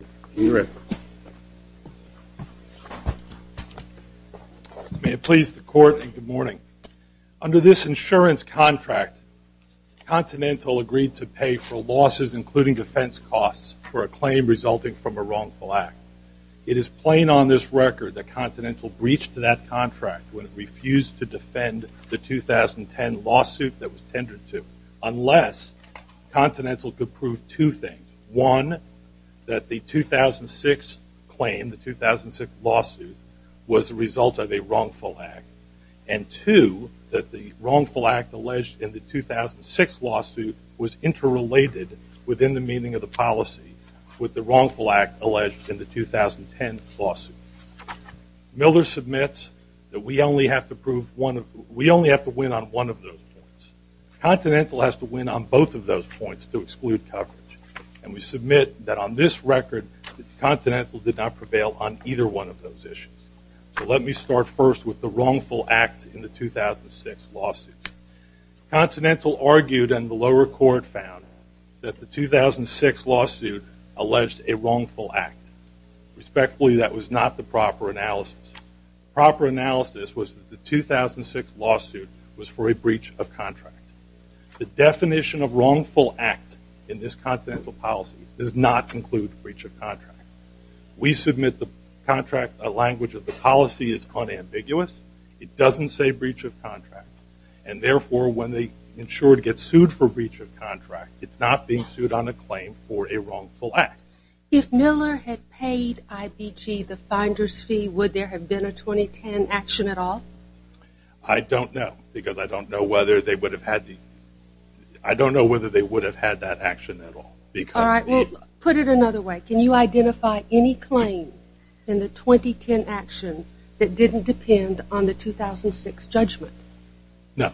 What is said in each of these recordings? May it please the Court, and good morning. Under this insurance contract, Continental agreed to pay for losses, including defense costs, for a claim resulting from a wrongful act. It is plain on this record that Continental breached that contract when it refused to defend the 2010 lawsuit that was tendered to, unless Continental could prove two things. One, that the 2006 claim, the 2006 lawsuit, was the result of a wrongful act. And two, that the wrongful act alleged in the 2006 lawsuit was interrelated within the meaning of the policy with the wrongful act alleged in the 2010 lawsuit. Miller submits that we only have to win on one of those points. Continental has to win on both of those points to exclude coverage. And we submit that on this record, that Continental did not prevail on either one of those issues. So let me start first with the wrongful act in the 2006 lawsuit. Continental argued, and the lower court found, that the 2006 lawsuit alleged a wrongful act. Respectfully, that was not the proper analysis. Proper analysis was that the 2006 lawsuit was for a breach of contract. The definition of wrongful act in this Continental policy does not include breach of contract. We submit the contract language of the policy is unambiguous. It doesn't say breach of contract. And therefore, when the insured gets sued for breach of contract, it's not being sued on a claim for a wrongful act. If Miller had paid IBG the finder's fee, would there have been a 2010 action at all? I don't know, because I don't know whether they would have had the, I don't know whether they would have had that action at all. All right, well, put it another way. Can you identify any claim in the 2010 action that didn't depend on the 2006 judgment? No.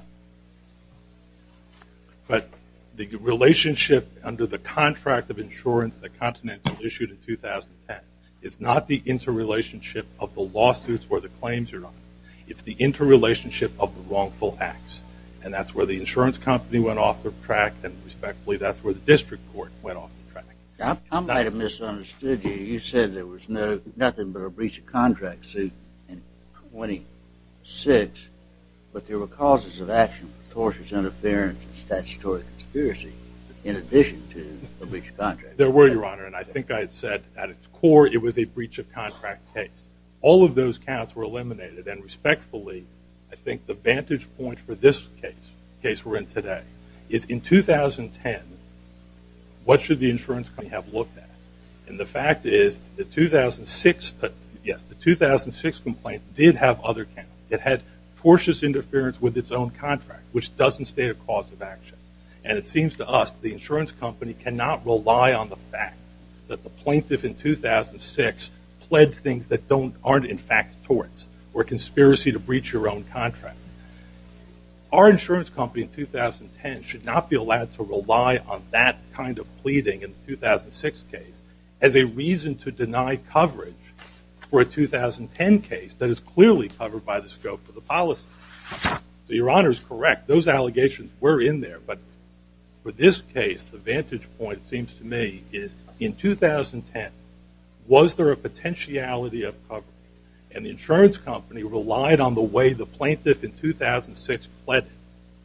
But the relationship under the contract of insurance that Continental issued in 2010 is not the interrelationship of the lawsuits where the claims are on. It's the interrelationship of the wrongful acts. And that's where the insurance company went off the track, and respectfully, that's where the district court went off the track. I might have misunderstood you. You said there was nothing but a breach of contract suit in 2006, but there were causes of action, tortious interference, and statutory conspiracy, in addition to a breach of contract. There were, Your Honor, and I think I had said at its core it was a breach of contract case. All of those counts were eliminated, and respectfully, I think the vantage point for this case, the case we're in today, is in 2010, what should the insurance company have looked at? And the fact is, the 2006 complaint did have other counts. It had tortious interference with its own contract, which doesn't state a cause of action. And it seems to us the insurance company cannot rely on the fact that the plaintiff in 2006 pled things that aren't in fact torts, or a conspiracy to breach your own contract. Our insurance company in 2010 should not be allowed to rely on that kind of pleading in a 2006 case as a reason to deny coverage for a 2010 case that is clearly covered by the scope of the policy. So Your Honor is correct. Those allegations were in there, but for this case, the vantage point seems to me is in 2010, was there a potentiality of covering? And the insurance company relied on the way the plaintiff in 2006 pleaded,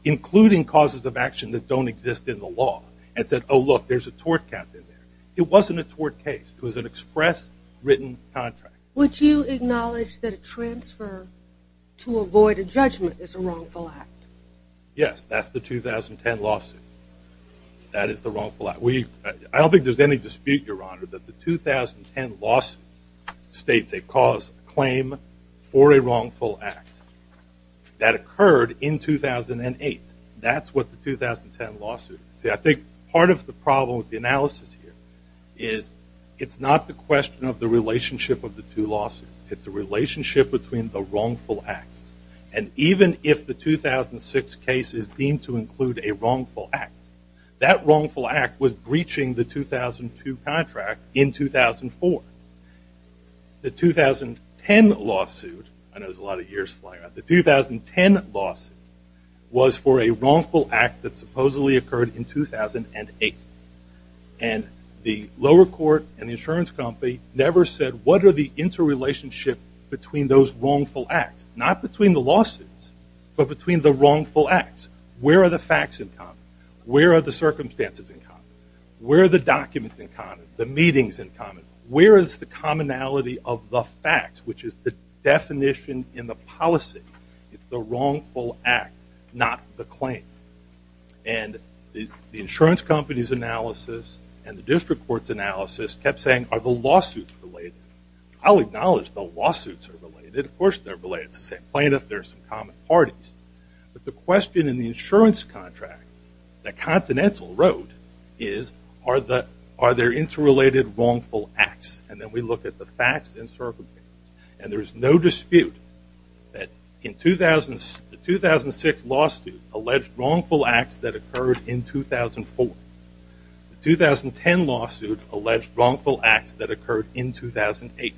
including causes of action that don't exist in the law, and said, oh look, there's a tort count in there. It wasn't a tort case. It was an express written contract. Would you acknowledge that a transfer to avoid a judgment is a wrongful act? Yes, that's the 2010 lawsuit. That is the wrongful act. I don't think there's any dispute, Your Honor, that the 2010 lawsuit states a cause, a claim for a wrongful act. That occurred in 2008. That's what the 2010 lawsuit is. See, I think part of the problem with the analysis here is it's not the question of the relationship of the two lawsuits. It's the relationship between the wrongful acts. And even if the 2006 case is deemed to include a wrongful act, that wrongful act was breaching the 2002 contract in 2004. The 2010 lawsuit, I know there's a lot of years flying by, the 2010 lawsuit was for a wrongful act that supposedly occurred in 2008. And the lower court and the insurance company never said, what are the interrelationship between those wrongful acts? Not between the lawsuits, but between the wrongful acts. Where are the facts in common? Where are the circumstances in common? Where are the documents in common? The meetings in common? Where is the commonality of the facts, which is the definition in the policy? It's the wrongful act, not the claim. And the insurance company's analysis and the district court's analysis kept saying, are the lawsuits related? I'll acknowledge the lawsuits are related. Of course they're related. It's the same plaintiff. There are some common parties. But the question in the insurance contract that Continental wrote is, are there interrelated wrongful acts? And then we look at the facts and circumstances. And there is no dispute that the 2006 lawsuit alleged wrongful acts that occurred in 2004. The 2010 lawsuit alleged wrongful acts that occurred in 2008.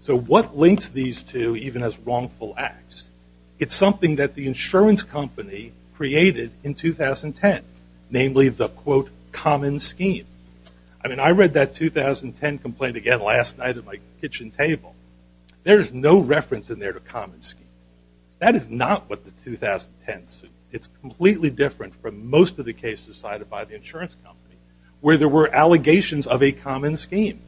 So what links these two, even as wrongful acts? It's something that the insurance company created in 2010, namely the, quote, common scheme. I mean, I read that 2010 complaint again last night at my kitchen table. There's no reference in there to common scheme. That is not what the 2010 suit. It's completely different from most of the cases cited by the insurance company, where there were allegations of a common scheme.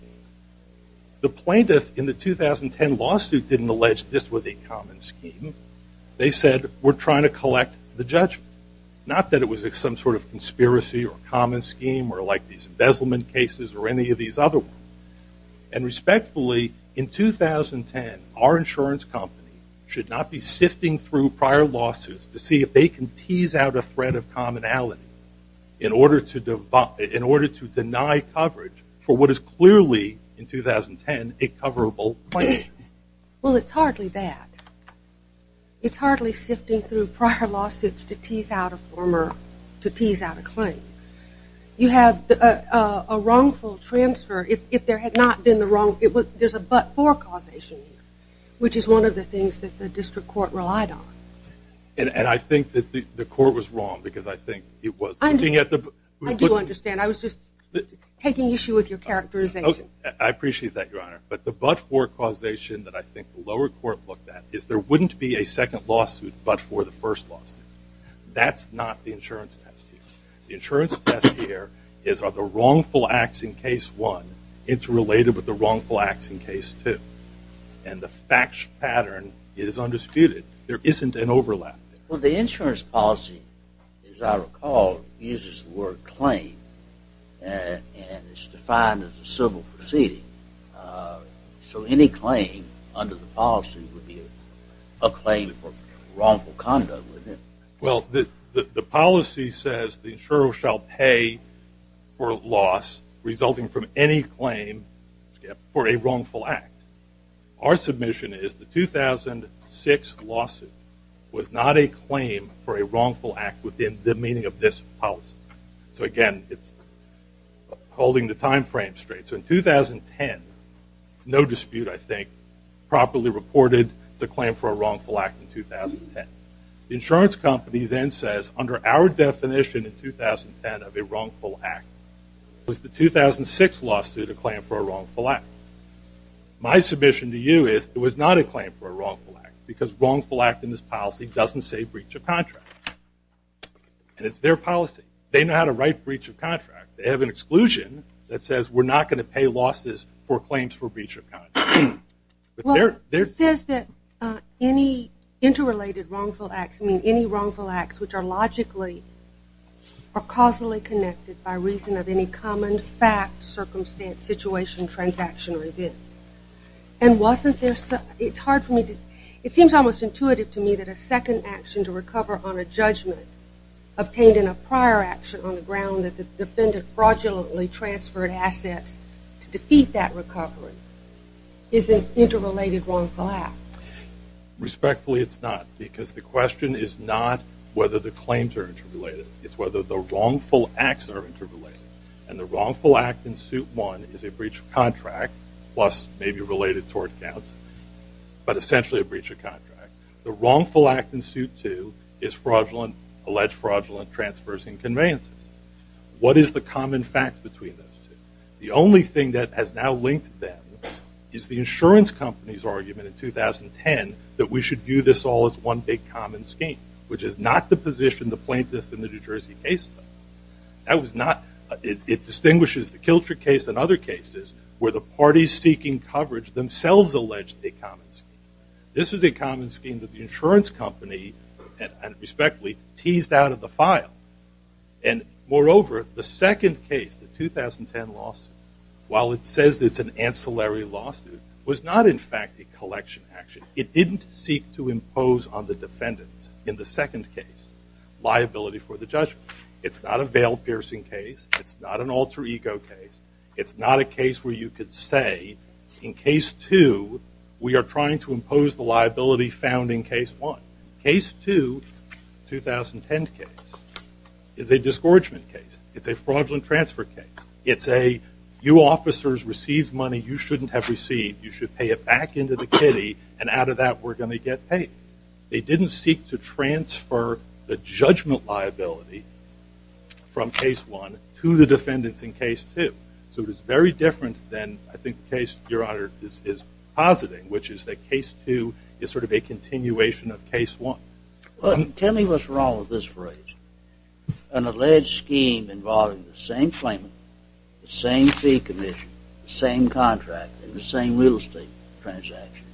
The plaintiff in the 2010 lawsuit didn't allege this was a common scheme. They said, we're trying to collect the judgment. Not that it was some sort of conspiracy or common scheme or like these embezzlement cases or any of these other ones. And respectfully, in 2010, our insurance company should not be sifting through prior lawsuits to see if they can tease out a thread of commonality in order to deny coverage for what is clearly in 2010 a coverable claim. Well, it's hardly that. It's hardly sifting through prior lawsuits to tease out a former, to tease out a claim. You have a wrongful transfer, if there had not been the wrongful, there's a but-for causation, which is one of the things that the district court relied on. And I think that the court was wrong, because I think it was looking at the- I do understand. I was just taking issue with your characterization. I appreciate that, Your Honor. But the but-for causation that I think the lower court looked at is there wouldn't be a second lawsuit but for the first lawsuit. That's not the insurance test here. The insurance test here is, are the wrongful acts in case one interrelated with the wrongful acts in case two? And the fact pattern is undisputed. There isn't an overlap. Well, the insurance policy, as I recall, uses the word claim, and it's defined as a civil proceeding. So any claim under the policy would be a claim for wrongful conduct, wouldn't it? Well, the policy says the insurer shall pay for loss resulting from any claim for a wrongful act. Our submission is the 2006 lawsuit was not a claim for a wrongful act within the meaning of this policy. So, again, it's holding the time frame straight. So in 2010, no dispute, I think, properly reported, it's a claim for a wrongful act in 2010. The insurance company then says, under our definition in 2010 of a wrongful act, it was the 2006 lawsuit a claim for a wrongful act. My submission to you is it was not a claim for a wrongful act because wrongful act in this policy doesn't say breach of contract, and it's their policy. They know how to write breach of contract. They have an exclusion that says we're not going to pay losses for claims for breach of contract. Well, it says that any interrelated wrongful acts, I mean, any wrongful acts which are logically or causally connected by reason of any common fact, circumstance, situation, transaction, or event. And wasn't there, it's hard for me to, it seems almost intuitive to me that a second action to recover on a judgment obtained in a prior action on the ground that the defendant fraudulently transferred assets to defeat that recovery is an interrelated wrongful act. Respectfully, it's not, because the question is not whether the claims are interrelated. It's whether the wrongful acts are interrelated. And the wrongful act in suit one is a breach of contract, plus maybe related tort counts, but essentially a breach of contract. The wrongful act in suit two is fraudulent, alleged fraudulent transfers and conveyances. What is the common fact between those two? The only thing that has now linked them is the insurance company's argument in 2010 that we should view this all as one big common scheme, which is not the position the plaintiffs in the New Jersey case took. That was not, it distinguishes the Kilcher case and other cases where the parties seeking coverage themselves alleged a common scheme. This is a common scheme that the insurance company, and respectfully, teased out of the file. And moreover, the second case, the 2010 lawsuit, while it says it's an ancillary lawsuit, was not in fact a collection action. It didn't seek to impose on the defendants in the second case liability for the judgment. It's not a veil-piercing case. It's not an alter ego case. It's not a case where you could say, in case two, we are trying to impose the liability found in case one. Case two, 2010 case, is a disgorgement case. It's a fraudulent transfer case. It's a, you officers received money you shouldn't have received. You should pay it back into the kitty, and out of that we're going to get paid. They didn't seek to transfer the judgment liability from case one to the defendants in case two. So it is very different than, I think, the case your honor is positing, which is that case two is sort of a continuation of case one. Tell me what's wrong with this phrase. An alleged scheme involving the same claimant, the same fee commission, the same contract, and the same real estate transaction.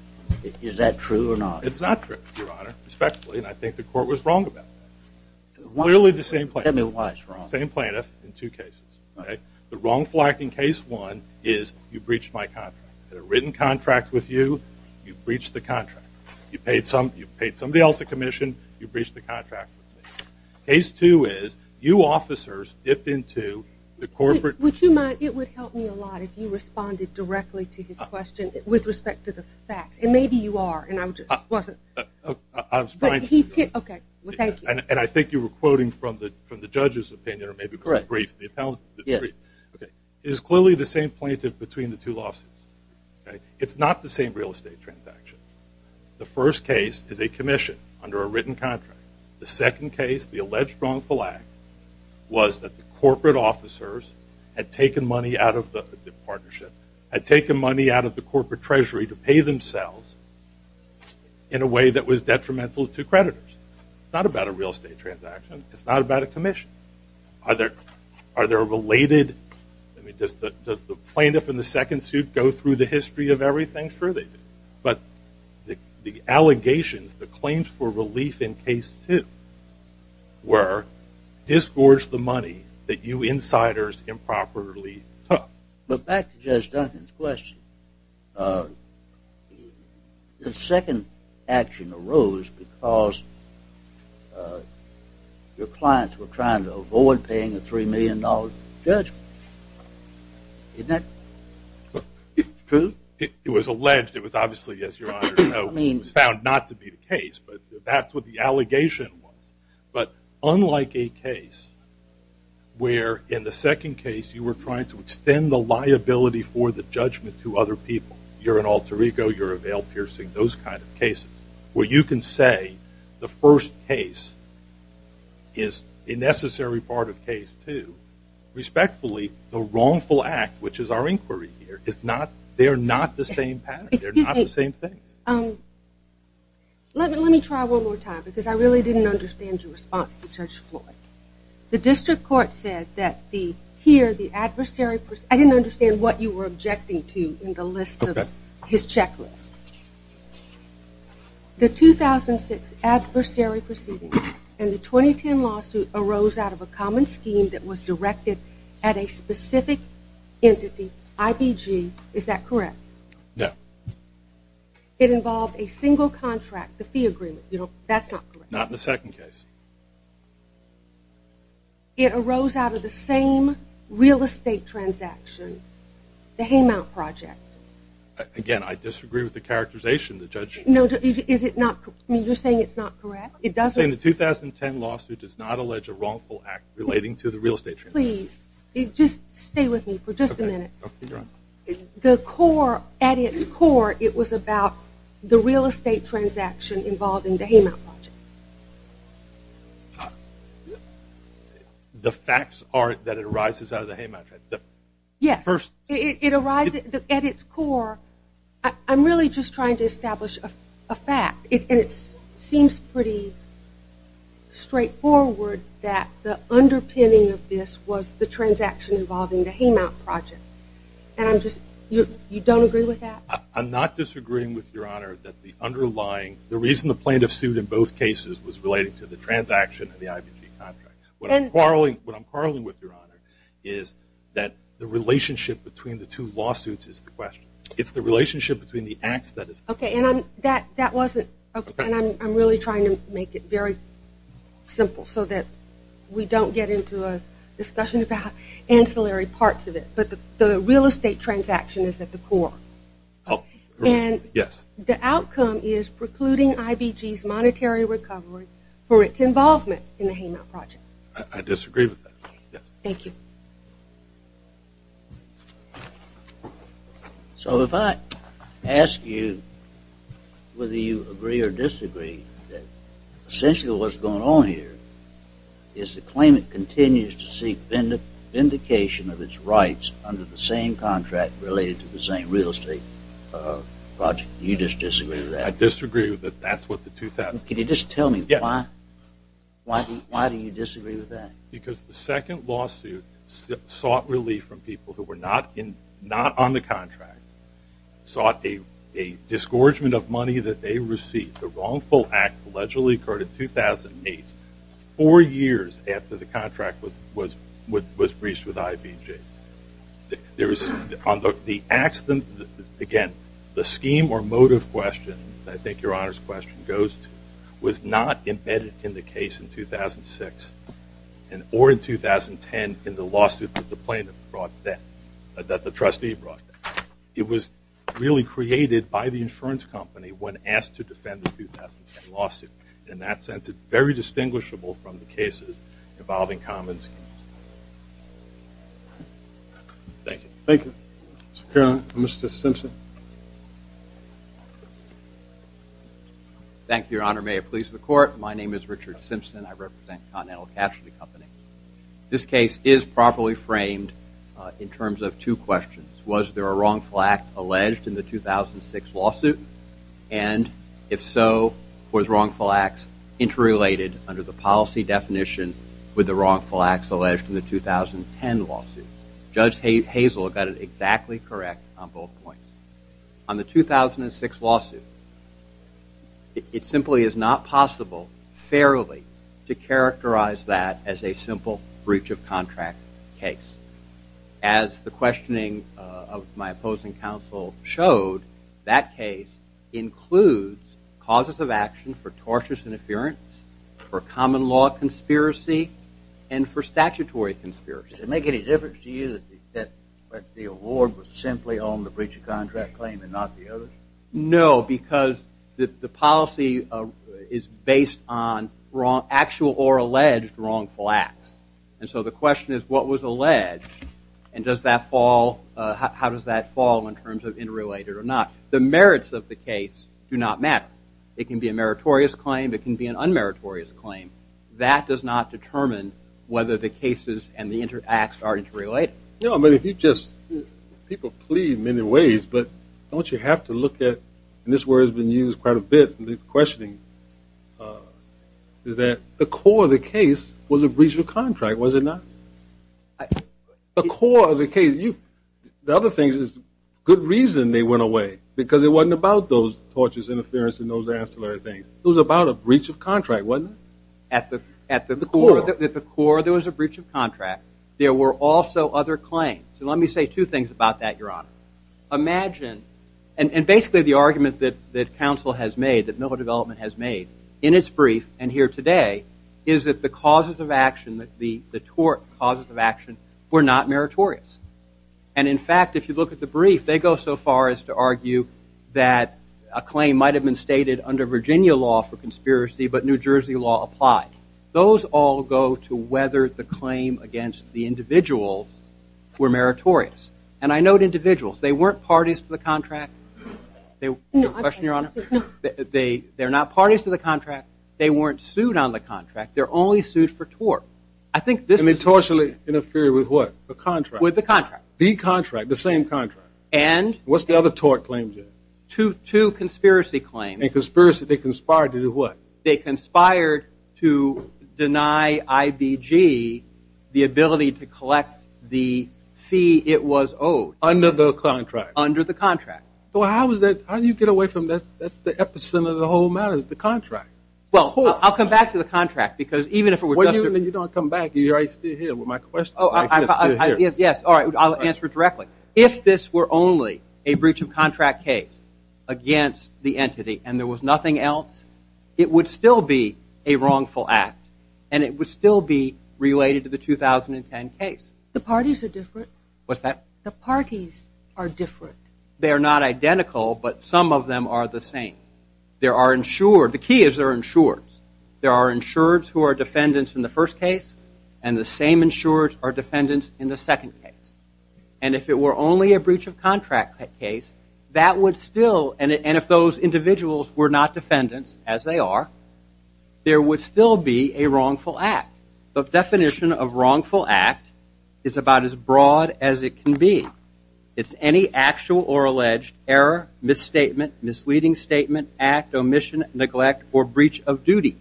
Is that true or not? It's not true, your honor, respectfully, and I think the court was wrong about that. Clearly the same plaintiff. Tell me why it's wrong. The same plaintiff in two cases. The wrongful act in case one is, you breached my contract. I had a written contract with you, you breached the contract. You paid somebody else a commission, you breached the contract with me. Case two is, you officers dipped into the corporate- Would you mind, it would help me a lot if you responded directly to his question with respect to the facts, and maybe you are, and I just wasn't- I was trying to- Okay, well thank you. And I think you were quoting from the judge's opinion, or maybe from the brief, the appellant's brief. It is clearly the same plaintiff between the two lawsuits. It's not the same real estate transaction. The first case is a commission under a written contract. The second case, the alleged wrongful act, was that the corporate officers had taken money out of the partnership, had taken money out of the corporate treasury to pay themselves in a way that was detrimental to creditors. It's not about a real estate transaction, it's not about a commission. Are there related- I mean, does the plaintiff in the second suit go through the history of everything? Sure they do. But the allegations, the claims for relief in case two were, disgorge the money that you insiders improperly took. But back to Judge Duncan's question, the second action arose because your clients were trying to avoid paying a $3 million judgment. Isn't that true? It was alleged. It was obviously, as your Honor knows, found not to be the case, but that's what the allegation was. But unlike a case where, in the second case, you were trying to extend the liability for the judgment to other people, you're an alter ego, you're a veil-piercing, those kind of cases, where you can say the first case is a necessary part of case two, respectfully, the wrongful act, which is our inquiry here, they're not the same pattern, they're not the same thing. Let me try one more time, because I really didn't understand your response to Judge Floyd. The district court said that the, here, the adversary, I didn't understand what you were objecting to in the list of his checklist. The 2006 adversary proceeding and the 2010 lawsuit arose out of a common scheme that was directed at a specific entity, IBG, is that correct? No. It involved a single contract, the fee agreement, you know, that's not correct. Not in the second case. It arose out of the same real estate transaction, the Haymount Project. Again, I disagree with the characterization, the judge- No, is it not, you're saying it's not correct? It doesn't- I'm saying the 2010 lawsuit does not allege a wrongful act relating to the real estate transaction. Please, just stay with me for just a minute. The core, at its core, it was about the real estate transaction involved in the Haymount Project. The facts are that it arises out of the Haymount Project? Yes. First- It arises, at its core, I'm really just trying to establish a fact, and it seems pretty straightforward that the underpinning of this was the transaction involving the Haymount Project. You don't agree with that? I'm not disagreeing with your honor that the underlying, the reason the plaintiff sued in both cases was related to the transaction of the IBG contract. What I'm quarreling with your honor is that the relationship between the two lawsuits is the question. It's the relationship between the acts that is- Okay, and that wasn't, and I'm really trying to make it very simple so that we don't get into a discussion about ancillary parts of it, but the real estate transaction is at the core. Oh, yes. And the outcome is precluding IBG's monetary recovery for its involvement in the Haymount Project. I disagree with that, yes. Thank you. So, if I ask you whether you agree or disagree, essentially what's going on here is the claimant continues to seek vindication of its rights under the same contract related to the same real estate project. Do you just disagree with that? I disagree with that. That's what the two- Can you just tell me why? Yes. Why do you disagree with that? Because the second lawsuit sought relief from people who were not on the contract, sought a disgorgement of money that they received. The wrongful act allegedly occurred in 2008, four years after the contract was breached with IBG. There was, again, the scheme or motive question, I think your honor's question goes to, was not embedded in the case in 2006 or in 2010 in the lawsuit that the plaintiff brought then, that the trustee brought then. It was really created by the insurance company when asked to defend the 2010 lawsuit. In that sense, it's very distinguishable from the cases involving common schemes. Thank you. Thank you. Thank you, your honor. May it please the court, my name is Richard Simpson. I represent Continental Casualty Company. This case is properly framed in terms of two questions. Was there a wrongful act alleged in the 2006 lawsuit? And if so, was wrongful acts interrelated under the policy definition with the wrongful acts alleged in the 2010 lawsuit? Judge Hazel got it exactly correct on both points. On the 2006 lawsuit, it simply is not possible, fairly, to characterize that as a simple breach of contract case. As the questioning of my opposing counsel showed, that case includes causes of action for tortious interference, for common law conspiracy, and for statutory conspiracies. Does it make any difference to you that the award was simply on the breach of contract claim and not the others? No, because the policy is based on actual or alleged wrongful acts. And so the question is, what was alleged? And how does that fall in terms of interrelated or not? The merits of the case do not matter. It can be a meritorious claim, it can be an unmeritorious claim. That does not determine whether the cases and the acts are interrelated. No, but if you just, people plead many ways, but don't you have to look at, and this word has been used quite a bit in this questioning, is that the core of the case was a breach of contract, was it not? The core of the case, the other thing is, good reason they went away, because it wasn't about those tortious interference and those ancillary things. It was about a breach of contract, wasn't it? At the core, there was a breach of contract. There were also other claims. Let me say two things about that, Your Honor. Imagine, and basically the argument that council has made, that Miller Development has made in its brief and here today, is that the causes of action, the tort causes of action, were not meritorious. And in fact, if you look at the brief, they go so far as to argue that a claim might have been stated under Virginia law for conspiracy, but New Jersey law applied. Those all go to whether the claim against the individuals were meritorious. And I note individuals. They weren't parties to the contract. Question, Your Honor? They're not parties to the contract. They weren't sued on the contract. They're only sued for tort. I think this is the key. And they tortially interfere with what? The contract. With the contract. The contract, the same contract. And? What's the other tort claim, Jim? Two conspiracy claims. And conspiracy, they conspired to do what? They conspired to deny IBG the ability to collect the fee it was owed. Under the contract. Under the contract. So how is that, how do you get away from this? That's the epicenter of the whole matter, is the contract. Well, I'll come back to the contract, because even if it were just a- What do you mean, you don't come back? You're right still here with my question. Oh, I, yes, yes. All right, I'll answer it directly. If this were only a breach of contract case against the entity and there was nothing else, it would still be a wrongful act. And it would still be related to the 2010 case. The parties are different. What's that? The parties are different. They are not identical, but some of them are the same. There are insured, the key is there are insureds. There are insureds who are defendants in the first case, and the same insureds are defendants in the second case. And if it were only a breach of contract case, that would still, and if those individuals were not defendants, as they are, there would still be a wrongful act. The definition of wrongful act is about as broad as it can be. It's any actual or alleged error, misstatement, misleading statement, act, omission, neglect, or breach of duty.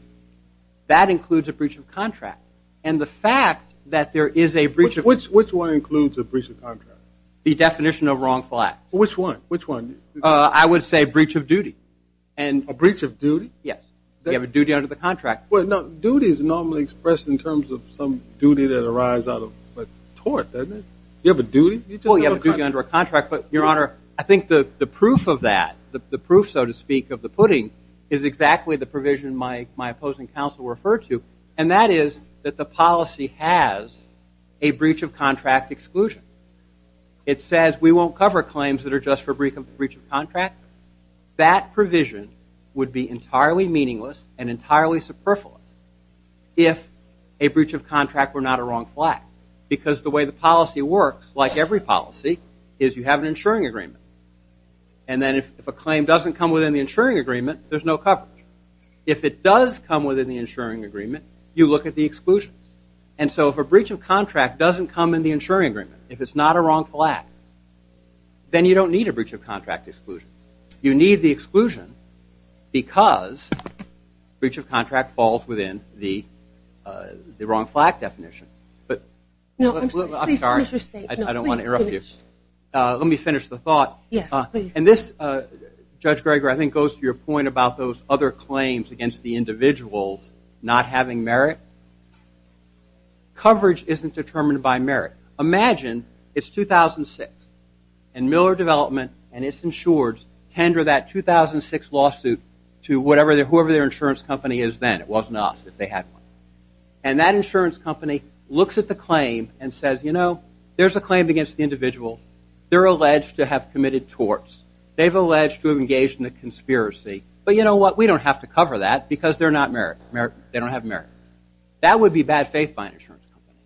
That includes a breach of contract. And the fact that there is a breach of- Which one includes a breach of contract? The definition of wrongful act. Which one? Which one? I would say breach of duty. A breach of duty? Yes. You have a duty under the contract. Duty is normally expressed in terms of some duty that arises out of a tort, doesn't it? You have a duty? Well, you have a duty under a contract, but your honor, I think the proof of that, the proof, so to speak, of the pudding, is exactly the provision my opposing counsel referred to. And that is that the policy has a breach of contract exclusion. It says we won't cover claims that are just for breach of contract. That provision would be entirely meaningless and entirely superfluous if a breach of contract were not a wrongful act. Because the way the policy works, like every policy, is you have an insuring agreement. And then if a claim doesn't come within the insuring agreement, there's no coverage. If it does come within the insuring agreement, you look at the exclusions. And so if a breach of contract doesn't come in the insuring agreement, if it's not a wrongful act, then you don't need a breach of contract exclusion. You need the exclusion because breach of contract falls within the wrongful act definition. But I'm sorry, I don't want to interrupt you. Let me finish the thought. And this, Judge Greger, I think goes to your point about those other claims against the individuals not having merit. Coverage isn't determined by merit. Imagine it's 2006, and Miller Development and its insureds tender that 2006 lawsuit to whoever their insurance company is then. It wasn't us if they had one. And that insurance company looks at the claim and says, you know, there's a claim against the individual. They're alleged to have committed torts. They've alleged to have engaged in a conspiracy. But you know what? We don't have to cover that because they're not merit. They don't have merit. That would be bad faith by an insurance company.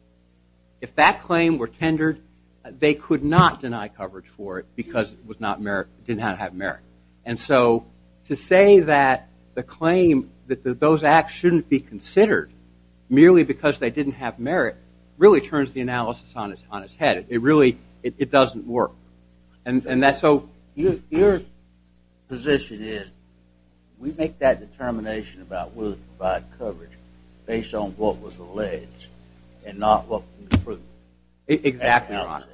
If that claim were tendered, they could not deny coverage for it because it didn't have merit. And so to say that the claim that those acts shouldn't be considered merely because they didn't have merit really turns the analysis on its head. It really doesn't work. And so your position is, we make that determination about, will it provide coverage based on what was alleged and not what was proven? Exactly, Your Honor.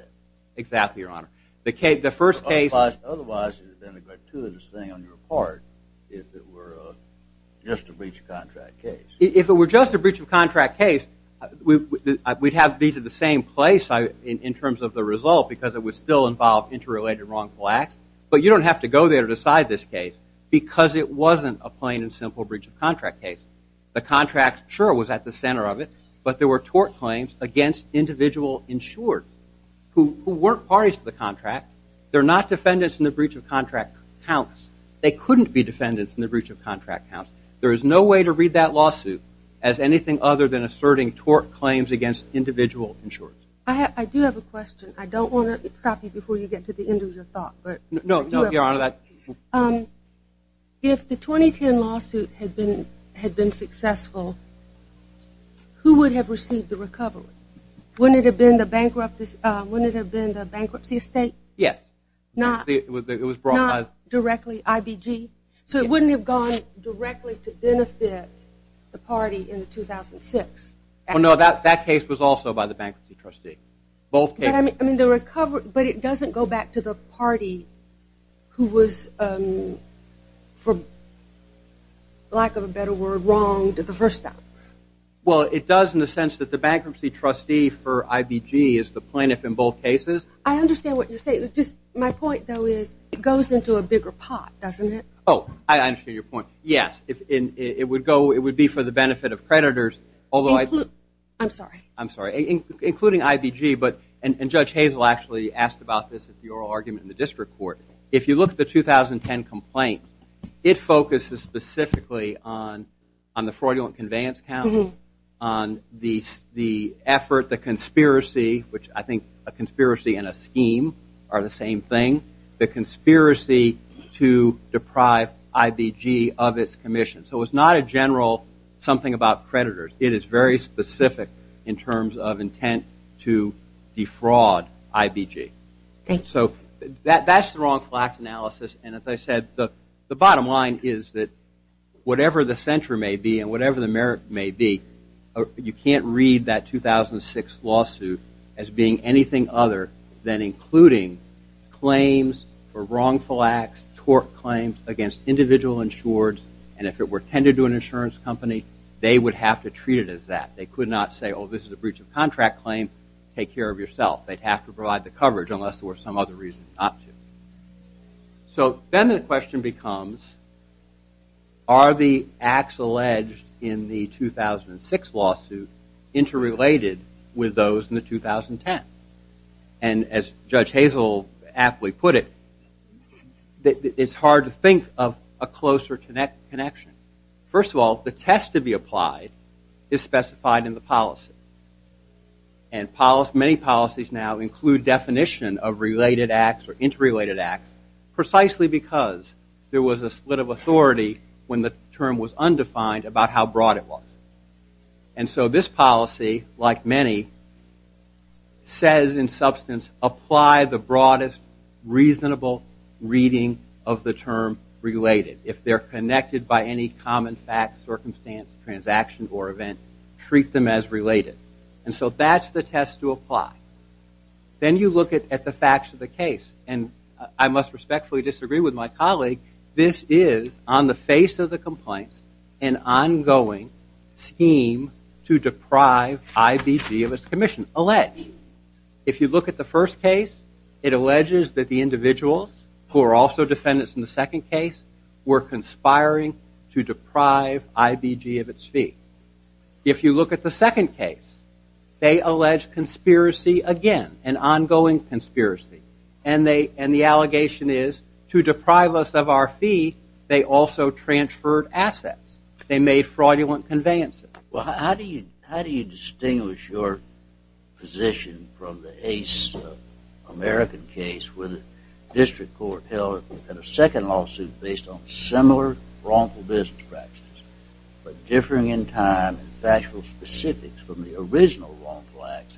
Exactly, Your Honor. The first case. Otherwise, it would have been a gratuitous thing on your part if it were just a breach of contract case. If it were just a breach of contract case, we'd have these at the same place in terms of the result because it would still involve interrelated wrongful acts. But you don't have to go there to decide this case because it wasn't a plain and simple breach of contract case. The contract, sure, was at the center of it. But there were tort claims against individual insured who weren't parties to the contract. They're not defendants in the breach of contract counts. They couldn't be defendants in the breach of contract counts. There is no way to read that lawsuit as anything other than asserting tort claims against individual insurers. I do have a question. I don't want to stop you before you get to the end of your thought. No, Your Honor. If the 2010 lawsuit had been successful, who would have received the recovery? Wouldn't it have been the bankruptcy estate? Yes. Not directly IBG? So it wouldn't have gone directly to benefit the party in 2006? No, that case was also by the bankruptcy trustee. Both cases? But it doesn't go back to the party who was, for lack of a better word, wronged the first time. Well, it does in the sense that the bankruptcy trustee for IBG is the plaintiff in both cases. I understand what you're saying. My point, though, is it goes into a bigger pot, doesn't it? Oh, I understand your point. Yes. It would be for the benefit of creditors. I'm sorry. I'm sorry. Including IBG, and Judge Hazel actually asked about this in the oral argument in the district court. If you look at the 2010 complaint, it focuses specifically on the fraudulent conveyance count, on the effort, the conspiracy, which I think a conspiracy and a scheme are the same thing, the conspiracy to deprive IBG of its commission. So it's not a general something about creditors. It is very specific in terms of intent to defraud IBG. So that's the wrongful acts analysis. And as I said, the bottom line is that whatever the center may be and whatever the merit may be, you can't read that 2006 lawsuit as being anything other than including claims for wrongful acts, tort claims against individual insureds. And if it were tended to an insurance company, they would have to treat it as that. They could not say, oh, this is a breach of contract claim. Take care of yourself. They'd have to provide the coverage unless there were some other reason not to. So then the question becomes, are the acts alleged in the 2006 lawsuit interrelated with those in the 2010? And as Judge Hazel aptly put it, it's hard to think of a closer connection. First of all, the test to be applied is specified in the policy. And many policies now include definition of related acts or interrelated acts precisely because there was a split of authority when the term was undefined about how broad it was. And so this policy, like many, says in substance, apply the broadest reasonable reading of the term related. If they're connected by any common facts, circumstance, transaction, or event, treat them as related. And so that's the test to apply. Then you look at the facts of the case. And I must respectfully disagree with my colleague. This is, on the face of the complaints, an ongoing scheme to deprive IBG of its commission. Alleged. If you look at the first case, it alleges that the individuals who are also defendants in the second case were conspiring to deprive IBG of its fee. If you look at the second case, they allege conspiracy again, an ongoing conspiracy. And the allegation is, to deprive us of our fee, they also transferred assets. They made fraudulent conveyances. Well, how do you distinguish your position from the ace American case, where the district court held that a second lawsuit based on similar wrongful business practices, but differing in time and factual specifics from the original wrongful acts,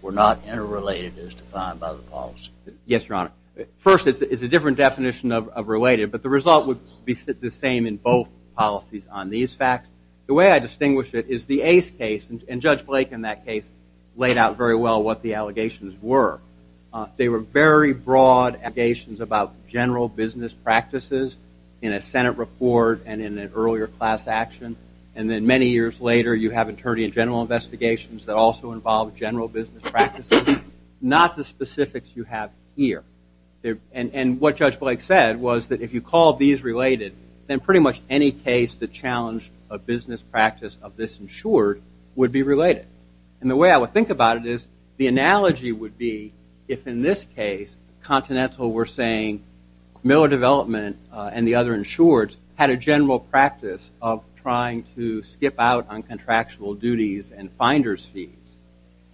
were not interrelated as defined by the policy? Yes, Your Honor. First, it's a different definition of related. But the result would be the same in both policies on these facts. The way I distinguish it is the ace case, and Judge Blake in that case laid out very well what the allegations were. They were very broad allegations about general business practices in a Senate report and in an earlier class action. And then many years later, you have attorney-in-general investigations that also involve general business practices, not the specifics you have here. And what Judge Blake said was that if you called these related, then pretty much any case that challenged a business practice of this insured would be related. And the way I would think about it is the analogy would be if, in this case, Continental were saying Miller Development and the other insureds had a general practice of trying to skip out on contractual duties and finder's fees.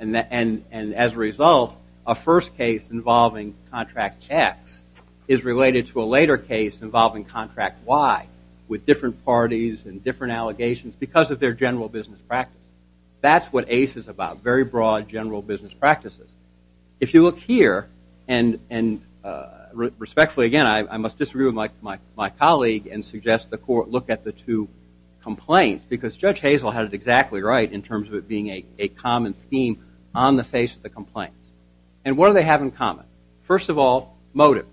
And as a result, a first case involving Contract X is related to a later case involving Contract Y with different parties and different allegations because of their general business practice. That's what ACE is about, very broad general business practices. If you look here, and respectfully, again, I must disagree with my colleague and suggest the court look at the two complaints because Judge Hazel had it exactly right in terms of it being a common scheme on the face of the complaints. And what do they have in common? First of all, motive.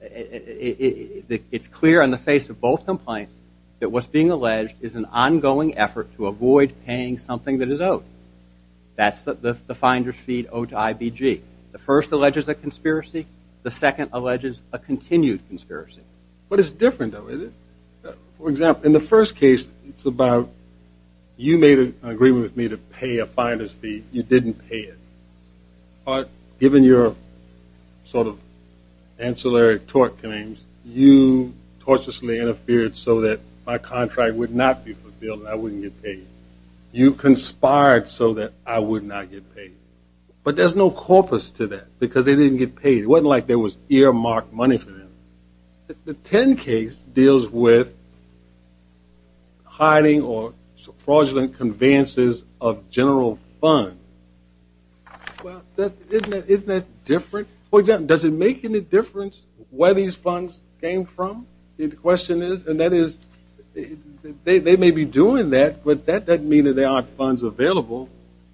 It's clear on the face of both complaints that what's being alleged is an ongoing effort to avoid paying something that is owed. That's the finder's fee owed to IBG. The first alleges a conspiracy. The second alleges a continued conspiracy. But it's different, though, isn't it? For example, in the first case, it's about you made an agreement with me to pay a finder's fee. You didn't pay it. But given your sort of ancillary tort claims, you tortiously interfered so that my contract would not be fulfilled and I wouldn't get paid. You conspired so that I would not get paid. But there's no corpus to that because they didn't get paid. It wasn't like there was earmarked money for them. The 10 case deals with hiding or fraudulent conveyances of general funds. Well, isn't that different? For example, does it make any difference where these funds came from? The question is, and that is, they may be doing that, but that doesn't mean that there aren't funds available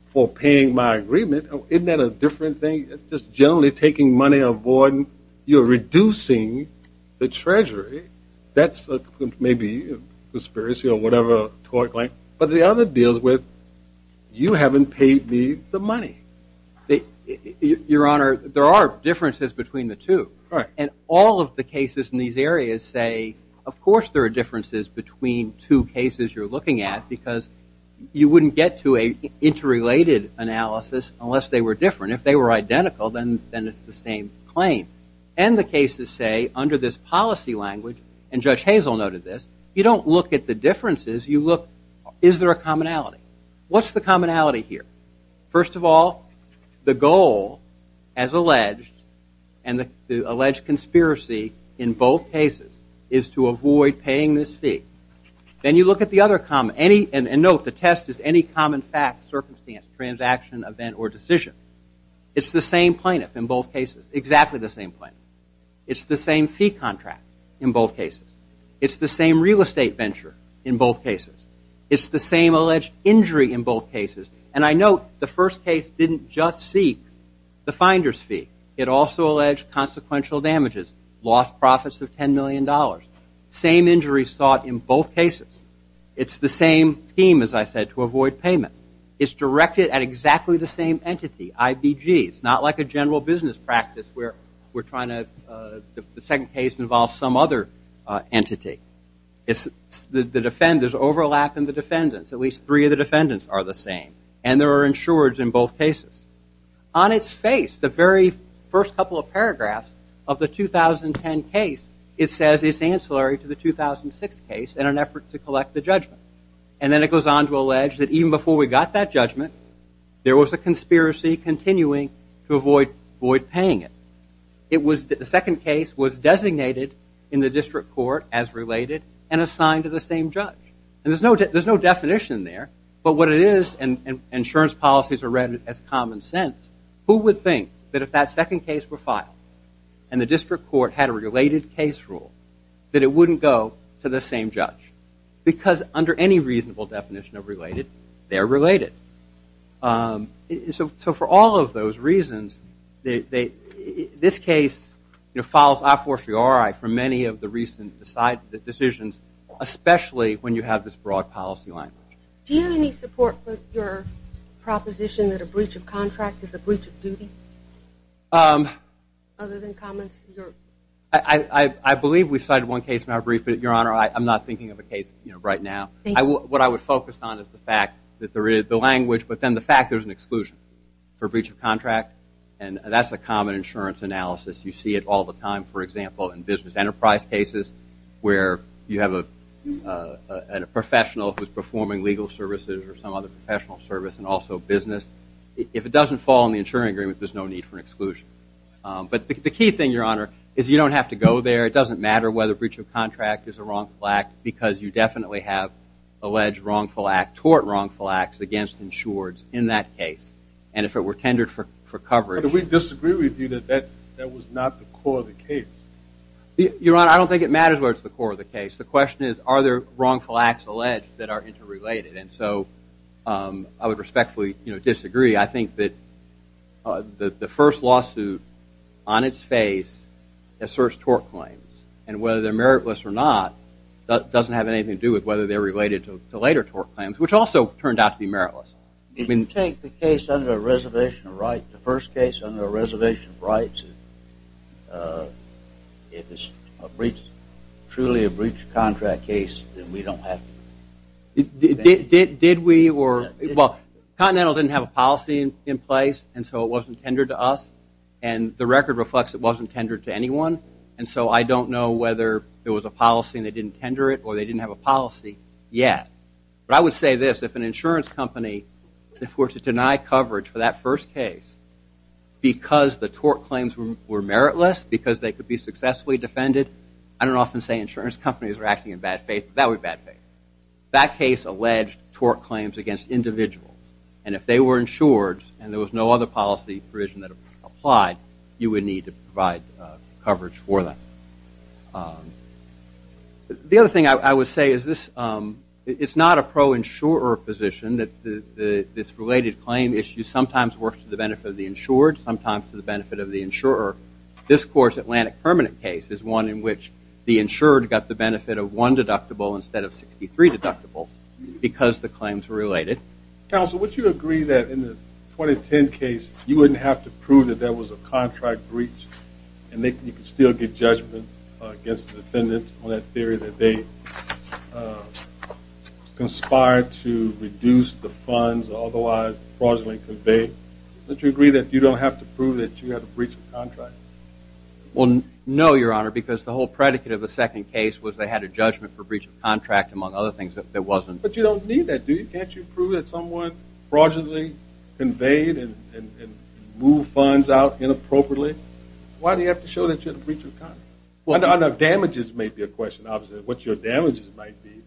for paying my agreement. Isn't that a different thing? Just generally taking money away, you're reducing the treasury. That's maybe a conspiracy or whatever tort claim. But the other deals with you haven't paid me the money. Your Honor, there are differences between the two. And all of the cases in these areas say, of course there are differences between two cases you're looking at because you wouldn't get to a interrelated analysis unless they were different. If they were identical, then it's the same claim. And the cases say, under this policy language, and Judge Hazel noted this, you don't look at the differences. You look, is there a commonality? What's the commonality here? First of all, the goal, as alleged, and the alleged conspiracy in both cases is to avoid paying this fee. Then you look at the other common, and note the test is any common fact, circumstance, transaction, event, or decision. It's the same plaintiff in both cases, exactly the same plaintiff. It's the same fee contract in both cases. It's the same real estate venture in both cases. It's the same alleged injury in both cases. And I note the first case didn't just seek the finder's fee. It also alleged consequential damages, lost profits of $10 million. Same injuries sought in both cases. It's the same scheme, as I said, to avoid payment. It's directed at exactly the same entity, IBG. It's not like a general business practice where we're trying to, the second case involves some other entity. The defenders overlap in the defendants. At least three of the defendants are the same. And there are insureds in both cases. On its face, the very first couple of paragraphs of the 2010 case, it says it's ancillary to the 2006 case in an effort to collect the judgment. And then it goes on to allege that even before we got that judgment, there was a conspiracy continuing to avoid paying it. It was, the second case was designated in the district court as related and assigned to the same judge. And there's no definition there, but what it is, and insurance policies are read as common sense, who would think that if that second case were filed and the district court had a related case rule, that it wouldn't go to the same judge? Because under any reasonable definition of related, they're related. So for all of those reasons, this case follows I-4-3-RI for many of the recent decisions, especially when you have this broad policy language. Do you have any support for your proposition that a breach of contract is a breach of duty? Other than comments you're... I believe we cited one case in our brief, but Your Honor, I'm not thinking of a case right now. What I would focus on is the fact that there is the language, but then the fact there's an exclusion for breach of contract. And that's a common insurance analysis. You see it all the time, for example, in business enterprise cases, where you have a professional who's performing legal services or some other professional service and also business. If it doesn't fall in the insuring agreement, there's no need for an exclusion. But the key thing, Your Honor, is you don't have to go there. It doesn't matter whether breach of contract is a wrongful act, because you definitely have alleged wrongful act, tort wrongful acts against insureds in that case. And if it were tendered for coverage... But we disagree with you that that was not the core of the case. Your Honor, I don't think it matters where it's the core of the case. The question is, are there wrongful acts alleged that are interrelated? And so I would respectfully disagree. I think that the first lawsuit on its face asserts tort claims. And whether they're meritless or not doesn't have anything to do with whether they're related to later tort claims, which also turned out to be meritless. You can take the case under a reservation of rights, the first case under a reservation of rights. If it's a breach, truly a breach of contract case, then we don't have to... Did we or... Well, Continental didn't have a policy in place, and so it wasn't tendered to us. And the record reflects it wasn't tendered to anyone. And so I don't know whether there was a policy and they didn't tender it or they didn't have a policy yet. But I would say this, if an insurance company, if we're to deny coverage for that first case, because the tort claims were meritless, because they could be successfully defended, I don't often say insurance companies are acting in bad faith. That would be bad faith. That case alleged tort claims against individuals. And if they were insured and there was no other policy provision that applied, you would need to provide coverage for that. The other thing I would say is this, it's not a pro-insurer position that this related claim issue sometimes works to the benefit of the insured, sometimes to the benefit of the insurer. This court's Atlantic Permanent case is one in which the insured got the benefit of one deductible instead of 63 deductibles because the claims were related. Counsel, would you agree that in the 2010 case, you wouldn't have to prove that there was a contract breach and you could still get judgment against the defendant on that theory that they conspired to reduce the funds or otherwise fraudulently convey? Would you agree that you don't have to prove that you had a breach of contract? Well, no, Your Honor, because the whole predicate of the second case was they had a judgment for breach of contract among other things that wasn't. But you don't need that, do you? Can't you prove that someone fraudulently conveyed and moved funds out inappropriately? Why do you have to show that you had a breach of contract? Well, the damages may be a question, obviously, what your damages might be,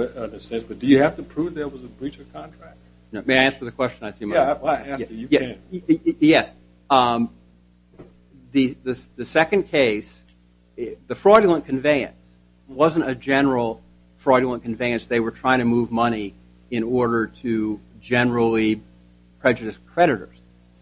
in a sense, but do you have to prove there was a breach of contract? Now, may I answer the question? I see my- Yeah, I asked you, you can. Yes, the second case, the fraudulent conveyance wasn't a general fraudulent conveyance. They were trying to move money in order to generally prejudice creditors.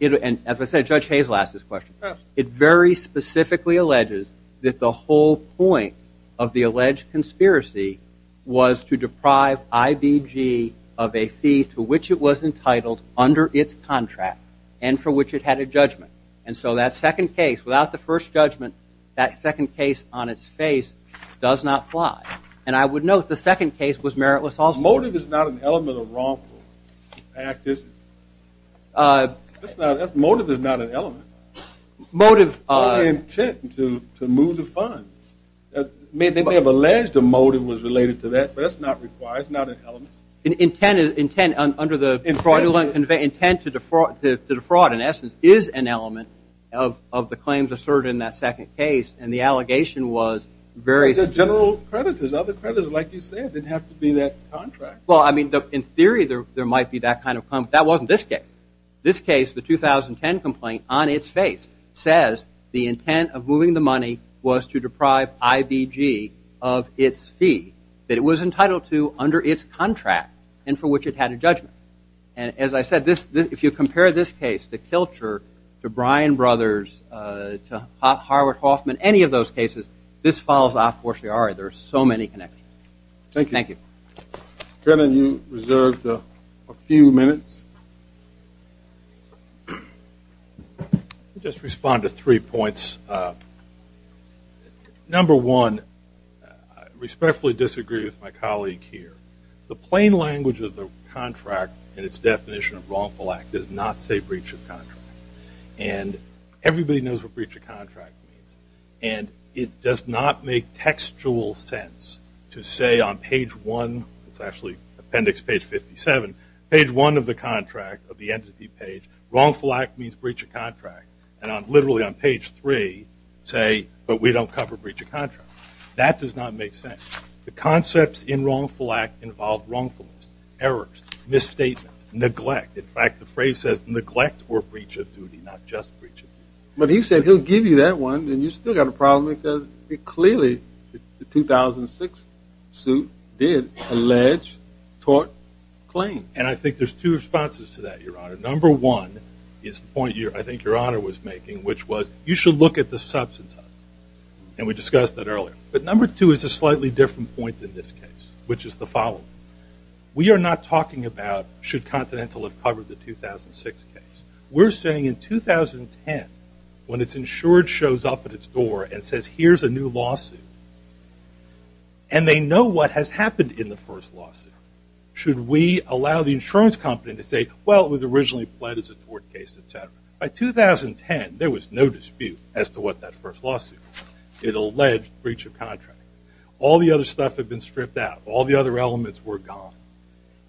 And as I said, Judge Hazel asked this question. It very specifically alleges that the whole point of the alleged conspiracy was to deprive IBG of a fee to which it was entitled under its contract and for which it had a judgment. And so that second case, without the first judgment, that second case on its face does not fly. And I would note, the second case was meritless also. Motive is not an element of wrongful act, is it? Motive is not an element. Motive- Or intent to move the funds. They may have alleged a motive was related to that, but that's not required, it's not an element. Intent under the fraudulent conveyance, intent to defraud, in essence, is an element of the claims asserted in that second case. And the allegation was very- But the general creditors, other creditors, like you said, didn't have to be that contract. Well, I mean, in theory, there might be that kind of claim. That wasn't this case. This case, the 2010 complaint, on its face, says the intent of moving the money was to deprive IBG of its fee that it was entitled to under its contract and for which it had a judgment. And as I said, if you compare this case to Kilcher, to Bryan Brothers, to Howard Hoffman, any of those cases, this falls off. Of course, there are, there are so many connections. Thank you. Thank you. Kennan, you reserved a few minutes. Just respond to three points. Number one, I respectfully disagree with my colleague here. The plain language of the contract and its definition of wrongful act does not say breach of contract. And everybody knows what breach of contract means. And it does not make textual sense to say on page one, it's actually appendix page 57, page one of the contract, of the entity page, wrongful act means breach of contract. And literally on page three, say, but we don't cover breach of contract. That does not make sense. The concepts in wrongful act involve wrongfulness, errors, misstatements, neglect. In fact, the phrase says neglect or breach of duty, not just breach of duty. But he said, he'll give you that one. And you still got a problem because clearly the 2006 suit did allege tort claim. And I think there's two responses to that, your honor. Number one is the point I think your honor was making, which was, you should look at the substance of it. And we discussed that earlier. But number two is a slightly different point in this case, which is the following. We are not talking about, should Continental have covered the 2006 case. We're saying in 2010, when it's insured shows up at its door and says, here's a new lawsuit, and they know what has happened in the first lawsuit, should we allow the insurance company to say, well, it was originally pled as a tort case, et cetera. By 2010, there was no dispute as to what that first lawsuit, it alleged breach of contract. All the other stuff had been stripped out. All the other elements were gone.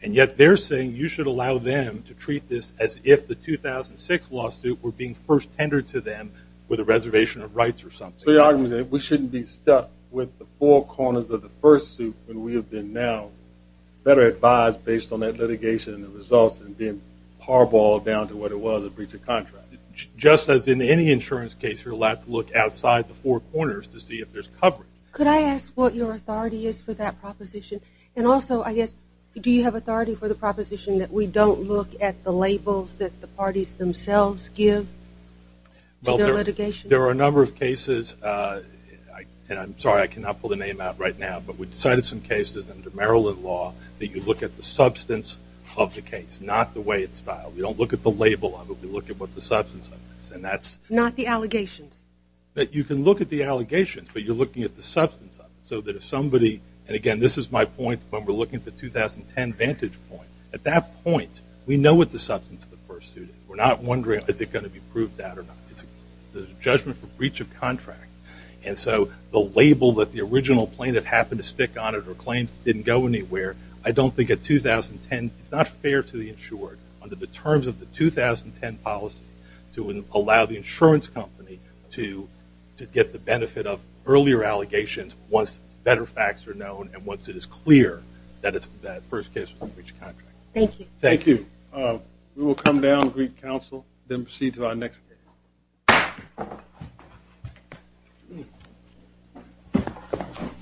And yet they're saying you should allow them to treat this as if the 2006 lawsuit were being first tendered to them with a reservation of rights or something. So your argument is that we shouldn't be stuck with the four corners of the first suit when we have been now better advised based on that litigation and the results and being parboiled down to what it was, a breach of contract. Just as in any insurance case, you're allowed to look outside the four corners to see if there's coverage. Could I ask what your authority is for that proposition? And also, I guess, do you have authority for the proposition that we don't look at the labels that the parties themselves give to their litigation? There are a number of cases, and I'm sorry, I cannot pull the name out right now, but we decided some cases under Maryland law that you look at the substance of the case, not the way it's styled. We don't look at the label of it, we look at what the substance of it is, and that's- Not the allegations. That you can look at the allegations, but you're looking at the substance of it so that if somebody, and again, this is my point when we're looking at the 2010 vantage point. At that point, we know what the substance of the first suit is. We're not wondering, is it gonna be proved that or not? It's the judgment for breach of contract. And so, the label that the original plaintiff happened to stick on it or claims it didn't go anywhere, I don't think at 2010, it's not fair to the insured under the terms of the 2010 policy to allow the insurance company to get the benefit of earlier allegations once better facts are known and once it is clear that first case was a breach of contract. Thank you. Thank you. We will come down, greet counsel, then proceed to our next case.